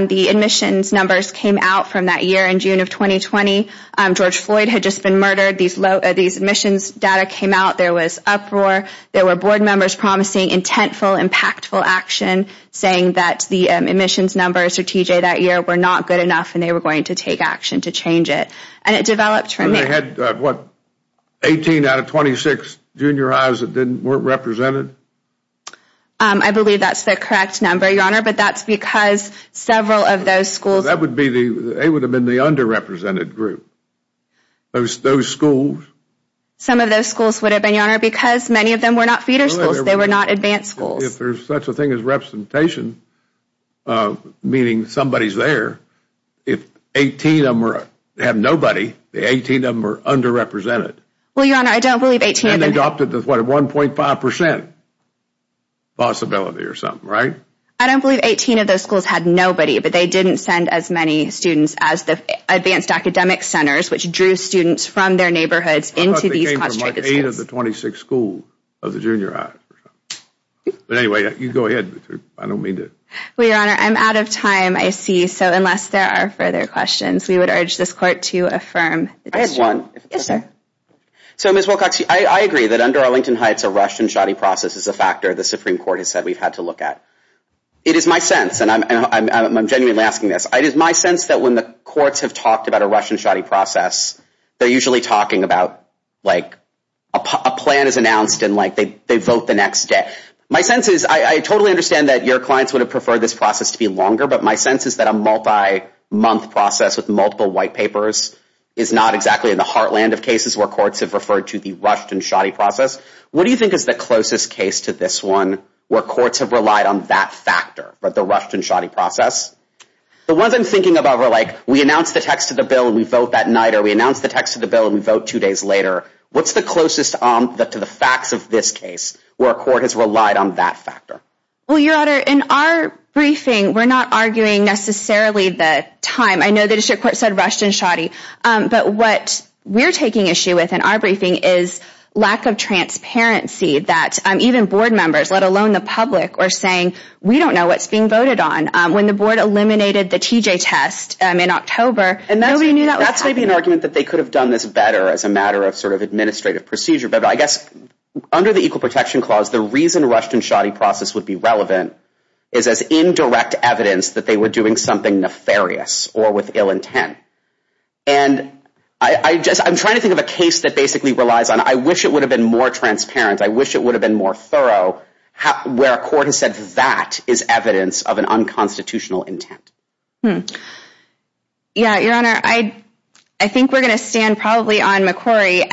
the admissions numbers came out from that year in June of 2020. George Floyd had just been murdered. These admissions data came out. There was uproar. There were board members promising intentful, impactful action, saying that the admissions numbers for TJ that year were not good enough and they were going to take action to change it. And it developed from there. They had, what, 18 out of 26 junior highs that weren't represented? I believe that's the correct number, Your Honor, but that's because several of those schools... They would have been the underrepresented group. Those schools... Some of those schools would have been, Your Honor, because many of them were not feeder schools. They were not advanced schools. If there's such a thing as representation, meaning somebody's there, if 18 of them have nobody, the 18 of them are underrepresented. Well, Your Honor, I don't believe 18 of them... And then they adopted the, what, 1.5% possibility or something, right? I don't believe 18 of those schools had nobody, but they didn't send as many students as the advanced academic centers, which drew students from their neighborhoods into these concentrated schools. I thought they came from, like, 8 of the 26 schools of the junior high. But anyway, you go ahead. I don't mean to... Well, Your Honor, I'm out of time, I see, so unless there are further questions, we would urge this Court to affirm the decision. I have one. Yes, sir. So, Ms. Wilcox, I agree that under Arlington Heights, a rushed and shoddy process is a factor the Supreme Court has said we've had to look at. It is my sense, and I'm genuinely asking this, it is my sense that when the courts have talked about a rushed and shoddy process, they're usually talking about, like, a plan is announced and, like, they vote the next day. My sense is, I totally understand that your clients would have preferred this process to be longer, but my sense is that a multi-month process with multiple white papers is not exactly in the heartland of cases where courts have referred to the rushed and shoddy process. What do you think is the closest case to this one where courts have relied on that factor, the rushed and shoddy process? The ones I'm thinking about were, like, we announce the text of the bill and we vote that night, or we announce the text of the bill and we vote two days later. What's the closest to the facts of this case where a court has relied on that factor? Well, Your Honor, in our briefing, we're not arguing necessarily the time. I know the district court said rushed and shoddy, but what we're taking issue with in our briefing is lack of transparency that even board members, let alone the public, are saying, we don't know what's being voted on. When the board eliminated the TJ test in October, nobody knew that was happening. That's maybe an argument that they could have done this better as a matter of sort of administrative procedure, but I guess under the Equal Protection Clause, the reason rushed and shoddy process would be relevant is as indirect evidence that they were doing something nefarious or with ill intent. And I'm trying to think of a case that basically relies on, I wish it would have been more transparent, I wish it would have been more thorough, where a court has said that is evidence of an unconstitutional intent. Yeah, Your Honor, I think we're going to stand probably on McCrory,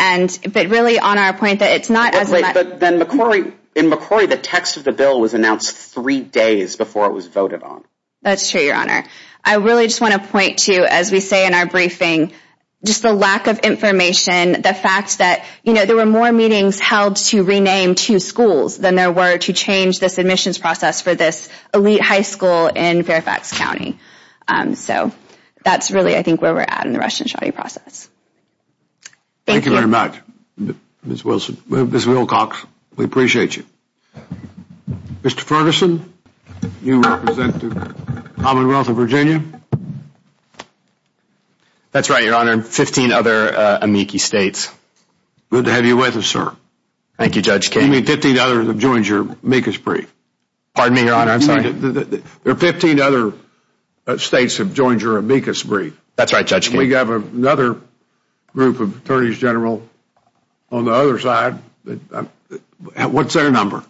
but really on our point that it's not as a matter of... But then in McCrory, the text of the bill was announced three days before it was voted on. That's true, Your Honor. I really just want to point to, as we say in our briefing, just the lack of information, the fact that there were more meetings held to rename two schools than there were to change this admissions process for this elite high school in Fairfax County. So that's really, I think, where we're at in the rushed and shoddy process. Thank you. Thank you very much, Ms. Wilson. Ms. Wilcox, we appreciate you. Mr. Ferguson, you represent the Commonwealth of Virginia. That's right, Your Honor, and 15 other amici states. Good to have you with us, sir. Thank you, Judge King. You mean 15 others have joined your amicus brief? Pardon me, Your Honor, I'm sorry? There are 15 other states that have joined your amicus brief. That's right, Judge King. We have another group of attorneys general on the other side. What's their number?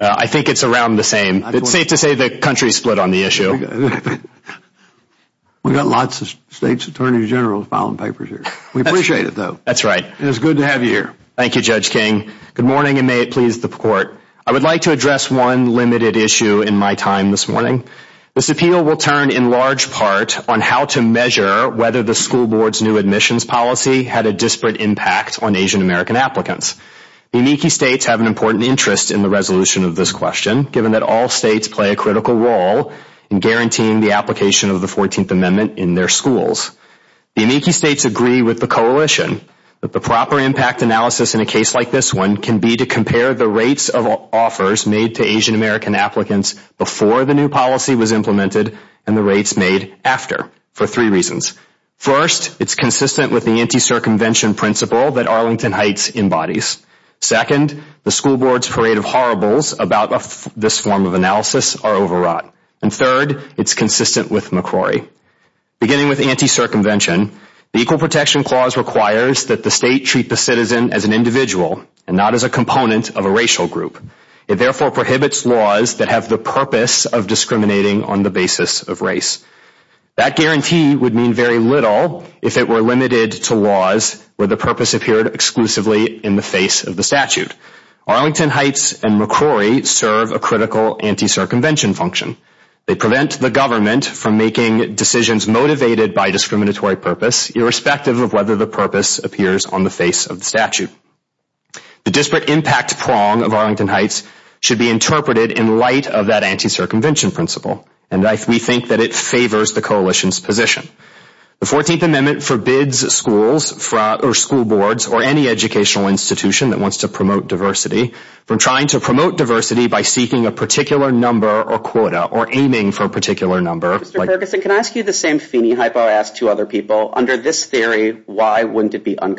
I think it's around the same. It's safe to say the country's split on the issue. We've got lots of states' attorneys general filing papers here. We appreciate it, though. That's right. It's good to have you here. Thank you, Judge King. Good morning, and may it please the Court. I would like to address one limited issue in my time this morning. This appeal will turn in large part on how to measure whether the school board's new admissions policy had a disparate impact on Asian American applicants. The amici states have an important interest in the resolution of this question, given that all states play a critical role in guaranteeing the application of the 14th Amendment in their schools. The amici states agree with the coalition that the proper impact analysis in a case like this one can be to compare the rates of offers made to Asian American applicants before the new policy was implemented and the rates made after, for three reasons. First, it's consistent with the anti-circumvention principle that Arlington Heights embodies. Second, the school board's parade of horribles about this form of analysis are overwrought. And third, it's consistent with McCrory. Beginning with anti-circumvention, the Equal Protection Clause requires that the state treat the citizen as an individual and not as a component of a racial group. It therefore prohibits laws that have the purpose of discriminating on the basis of race. That guarantee would mean very little if it were limited to laws where the purpose appeared exclusively in the face of the statute. Arlington Heights and McCrory serve a critical anti-circumvention function. They prevent the government from making decisions motivated by discriminatory purpose, irrespective of whether the purpose appears on the face of the statute. The disparate impact prong of Arlington Heights should be interpreted in light of that anti-circumvention principle, and we think that it favors the coalition's position. The 14th Amendment forbids schools, or school boards, or any educational institution that wants to promote diversity from trying to promote diversity by seeking a particular number or quota or aiming for a particular number. Mr. Ferguson, can I ask you the same phony hypo-ask to other people? Under this theory, why wouldn't it be a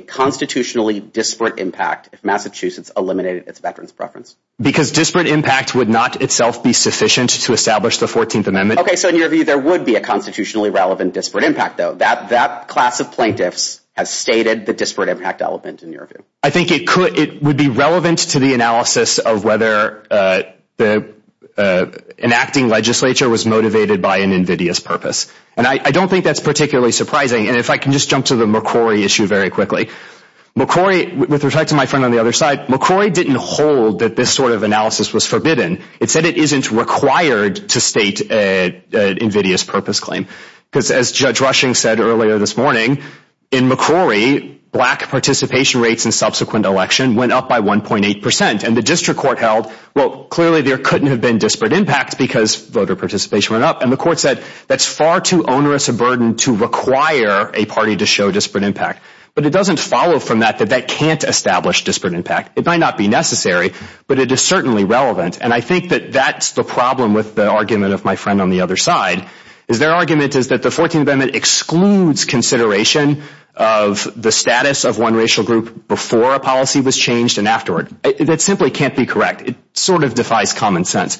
constitutionally disparate impact if Massachusetts eliminated its veterans' preference? Because disparate impact would not itself be sufficient to establish the 14th Amendment. Okay, so in your view, there would be a constitutionally relevant disparate impact, though. That class of plaintiffs has stated the disparate impact element in your view. I think it would be relevant to the analysis of whether an acting legislature was motivated by an invidious purpose, and I don't think that's particularly surprising. And if I can just jump to the McCrory issue very quickly. McCrory, with respect to my friend on the other side, McCrory didn't hold that this sort of analysis was forbidden. It said it isn't required to state an invidious purpose claim. Because as Judge Rushing said earlier this morning, in McCrory, black participation rates in subsequent election went up by 1.8%. And the district court held, well, clearly there couldn't have been disparate impact because voter participation went up. And the court said, that's far too onerous a burden to require a party to show disparate impact. But it doesn't follow from that that that can't establish disparate impact. It might not be necessary, but it is certainly relevant. And I think that that's the problem with the argument of my friend on the other side. Their argument is that the 14th Amendment excludes consideration of the status of one racial group before a policy was changed and afterward. That simply can't be correct. It sort of defies common sense.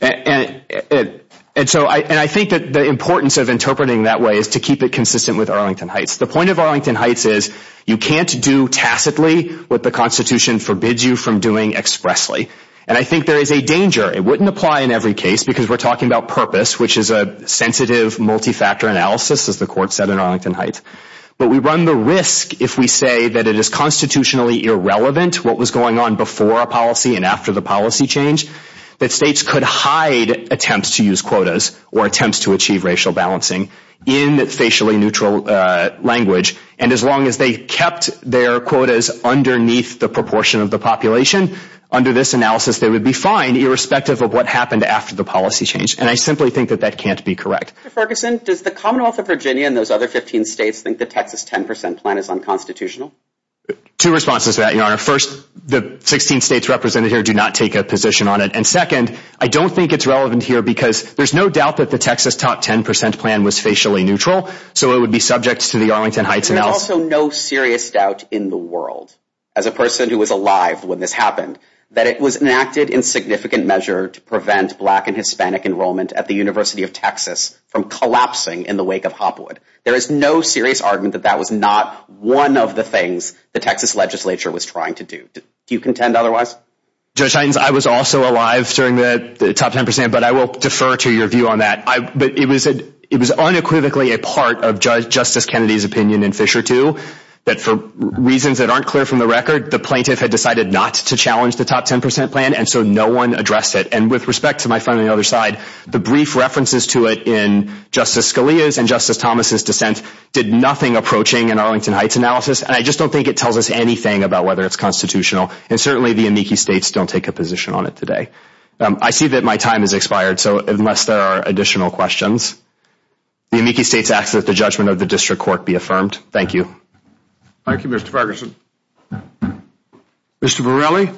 And so I think that the importance of interpreting it that way is to keep it consistent with Arlington Heights. The point of Arlington Heights is, you can't do tacitly what the Constitution forbids you from doing expressly. And I think there is a danger. It wouldn't apply in every case because we're talking about purpose, which is a sensitive multi-factor analysis, as the court said in Arlington Heights. But we run the risk if we say that it is constitutionally irrelevant what was going on before a policy and after the policy change, that states could hide attempts to use quotas or attempts to achieve racial balancing in facially neutral language. And as long as they kept their quotas underneath the proportion of the population, under this analysis, they would be fine irrespective of what happened after the policy change. And I simply think that that can't be correct. Mr. Ferguson, does the Commonwealth of Virginia and those other 15 states think the Texas 10% plan is unconstitutional? Two responses to that, Your Honor. First, the 16 states represented here do not take a position on it. And second, I don't think it's relevant here because there's no doubt that the Texas top 10% plan was facially neutral, so it would be subject to the Arlington Heights analysis. There's also no serious doubt in the world, as a person who was alive when this happened, that it was enacted in significant measure to prevent black and Hispanic enrollment at the University of Texas from collapsing in the wake of Hopwood. There is no serious argument that that was not one of the things the Texas legislature was trying to do. Do you contend otherwise? Judge Hines, I was also alive during the top 10%, but I will defer to your view on that. But it was unequivocally a part of Justice Kennedy's opinion in Fisher II that for reasons that aren't clear from the record, the plaintiff had decided not to challenge the top 10% plan, and so no one addressed it. And with respect to my friend on the other side, the brief references to it in Justice Scalia's and Justice Thomas' dissent did nothing approaching an Arlington Heights analysis, and I just don't think it tells us anything about whether it's constitutional. And certainly the amici states don't take a position on it today. I see that my time has expired, so unless there are additional questions, the amici states ask that the judgment of the district court be affirmed. Thank you. Thank you, Mr. Ferguson. Mr. Borrelli?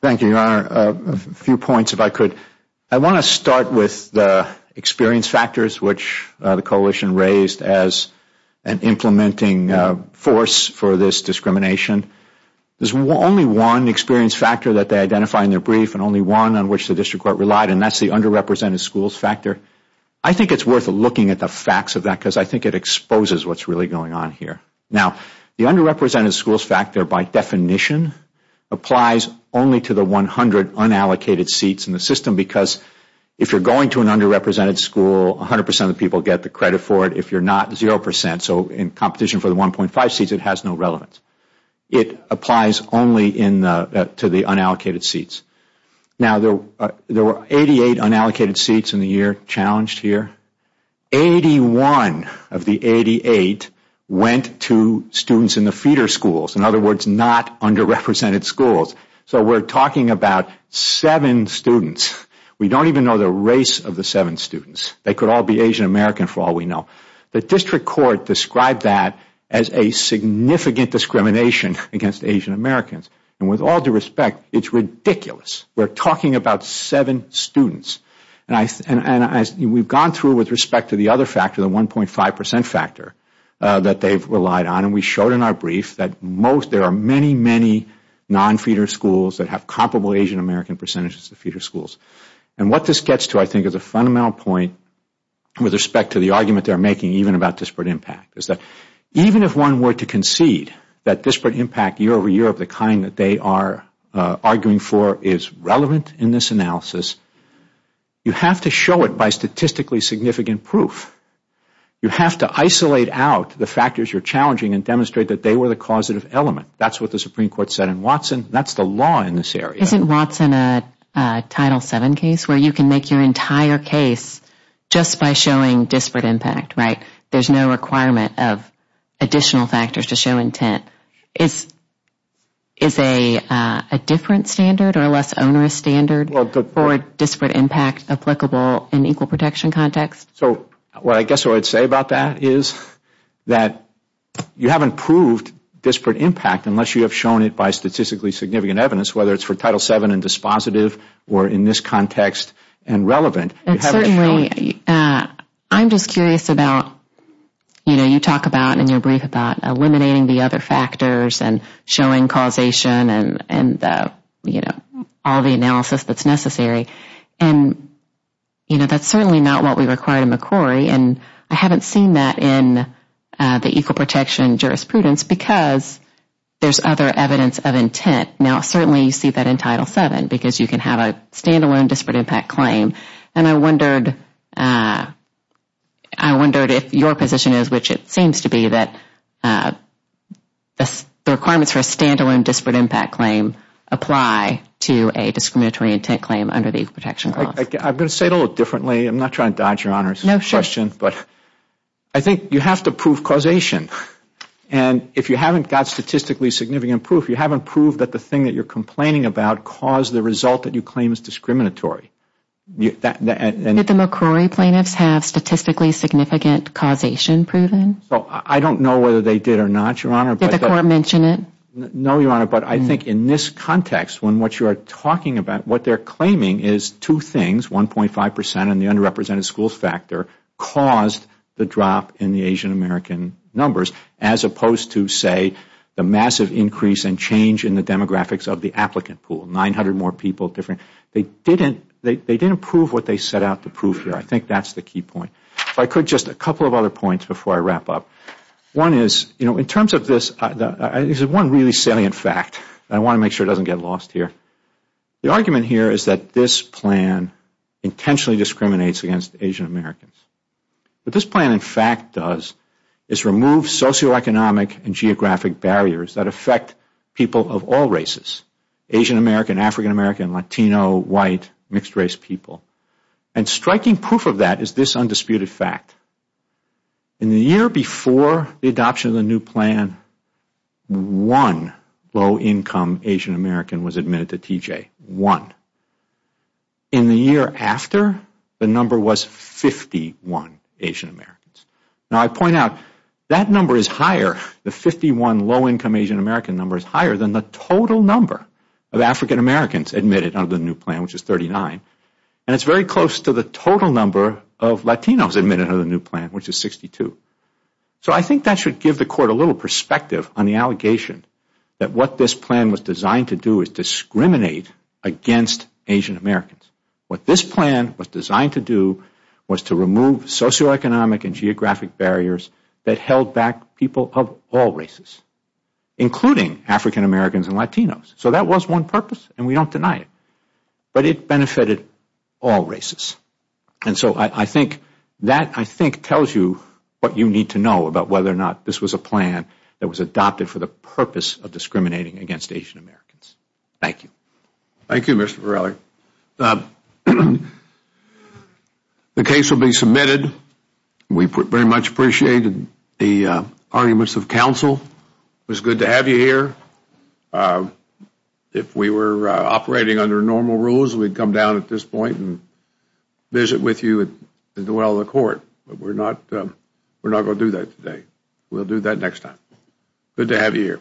Thank you, Your Honor. A few points, if I could. I want to start with the experience factors which the coalition raised as an implementing force for this discrimination. There's only one experience factor that they identify in their brief and only one on which the district court relied, and that's the underrepresented schools factor. I think it's worth looking at the facts of that because I think it exposes what's really going on here. Now, the underrepresented schools factor, by definition, applies only to the 100 unallocated seats in the system because if you're going to an underrepresented school, 100 percent of the people get the credit for it. If you're not, 0 percent. So in competition for the 1.5 seats, it has no relevance. It applies only to the unallocated seats. Now, there were 88 unallocated seats in the year challenged here. 81 of the 88 went to students in the feeder schools, in other words, not underrepresented schools. So we're talking about seven students. We don't even know the race of the seven students. They could all be Asian American for all we know. The district court described that as a significant discrimination against Asian Americans. And with all due respect, it's ridiculous. We're talking about seven students. We've gone through with respect to the other factor, the 1.5 percent factor that they've relied on, and we showed in our brief that there are many, many non-feeder schools that have comparable Asian American percentages to feeder schools. And what this gets to, I think, is a fundamental point with respect to the argument they're making, even about disparate impact, is that even if one were to concede that disparate impact year over year of the kind that they are arguing for is relevant in this analysis, you have to show it by statistically significant proof. You have to isolate out the factors you're challenging and demonstrate that they were the causative element. That's what the Supreme Court said in Watson. That's the law in this area. Isn't Watson a Title VII case, where you can make your entire case just by showing disparate impact, right? There's no requirement of additional factors to show intent. Is a different standard or a less onerous standard for disparate impact applicable in equal protection context? So what I guess I would say about that is that you haven't proved disparate impact unless you have shown it by statistically significant evidence, whether it's for Title VII and dispositive or in this context and relevant. And certainly, I'm just curious about, you know, you talk about in your brief about eliminating the other factors and showing causation and, you know, all the analysis that's necessary. And, you know, that's certainly not what we require in McCrory. And I haven't seen that in the equal protection jurisprudence because there's other evidence of intent. Now, certainly, you see that in Title VII because you can have a standalone disparate impact claim. And I wondered if your position is, which it seems to be, that the requirements for a standalone disparate impact claim apply to a discriminatory intent claim under the equal protection clause. I'm going to say it a little differently. I'm not trying to dodge Your Honor's question. No, sure. But I think you have to prove causation. And if you haven't got statistically significant proof, you haven't proved that the thing that you're complaining about caused the result that you claim is discriminatory. Did the McCrory plaintiffs have statistically significant causation proven? I don't know whether they did or not, Your Honor. Did the court mention it? No, Your Honor. But I think in this context, when what you are talking about, what they're claiming is two things, 1.5 percent and the underrepresented school factor, caused the drop in the Asian American numbers, as opposed to, say, the massive increase and change in the demographics of the applicant pool, 900 more people. They didn't prove what they set out to prove here. I think that's the key point. If I could, just a couple of other points before I wrap up. One is, in terms of this, this is one really salient fact. I want to make sure it doesn't get lost here. The argument here is that this plan intentionally discriminates against Asian Americans. What this plan, in fact, does is remove socioeconomic and geographic barriers that affect people of all races, Asian American, African American, Latino, white, mixed race people. Striking proof of that is this undisputed fact. In the year before the adoption of the new plan, one low income Asian American was admitted to TJ, one. In the year after, the number was 51 Asian Americans. Now, I point out, that number is higher, the 51 low income Asian American number is higher than the total number of African Americans admitted under the new plan, which is 39. It is very close to the total number of Latinos admitted under the new plan, which is 62. I think that should give the Court a little perspective on the allegation that what this plan was designed to do is discriminate against Asian Americans. What this plan was designed to do was to remove socioeconomic and geographic barriers that held back people of all races, including African Americans and Latinos. That was one purpose, and we don't deny it. But it benefited all races. I think that tells you what you need to know about whether or not this was a plan that was adopted for the purpose of discriminating against Asian Americans. Thank you. Thank you, Mr. Verrilli. The case will be submitted. We very much appreciated the arguments of counsel. It was good to have you here. If we were operating under normal rules, we'd come down at this point and visit with you at the well of the Court. But we're not going to do that today. We'll do that next time. Good to have you here.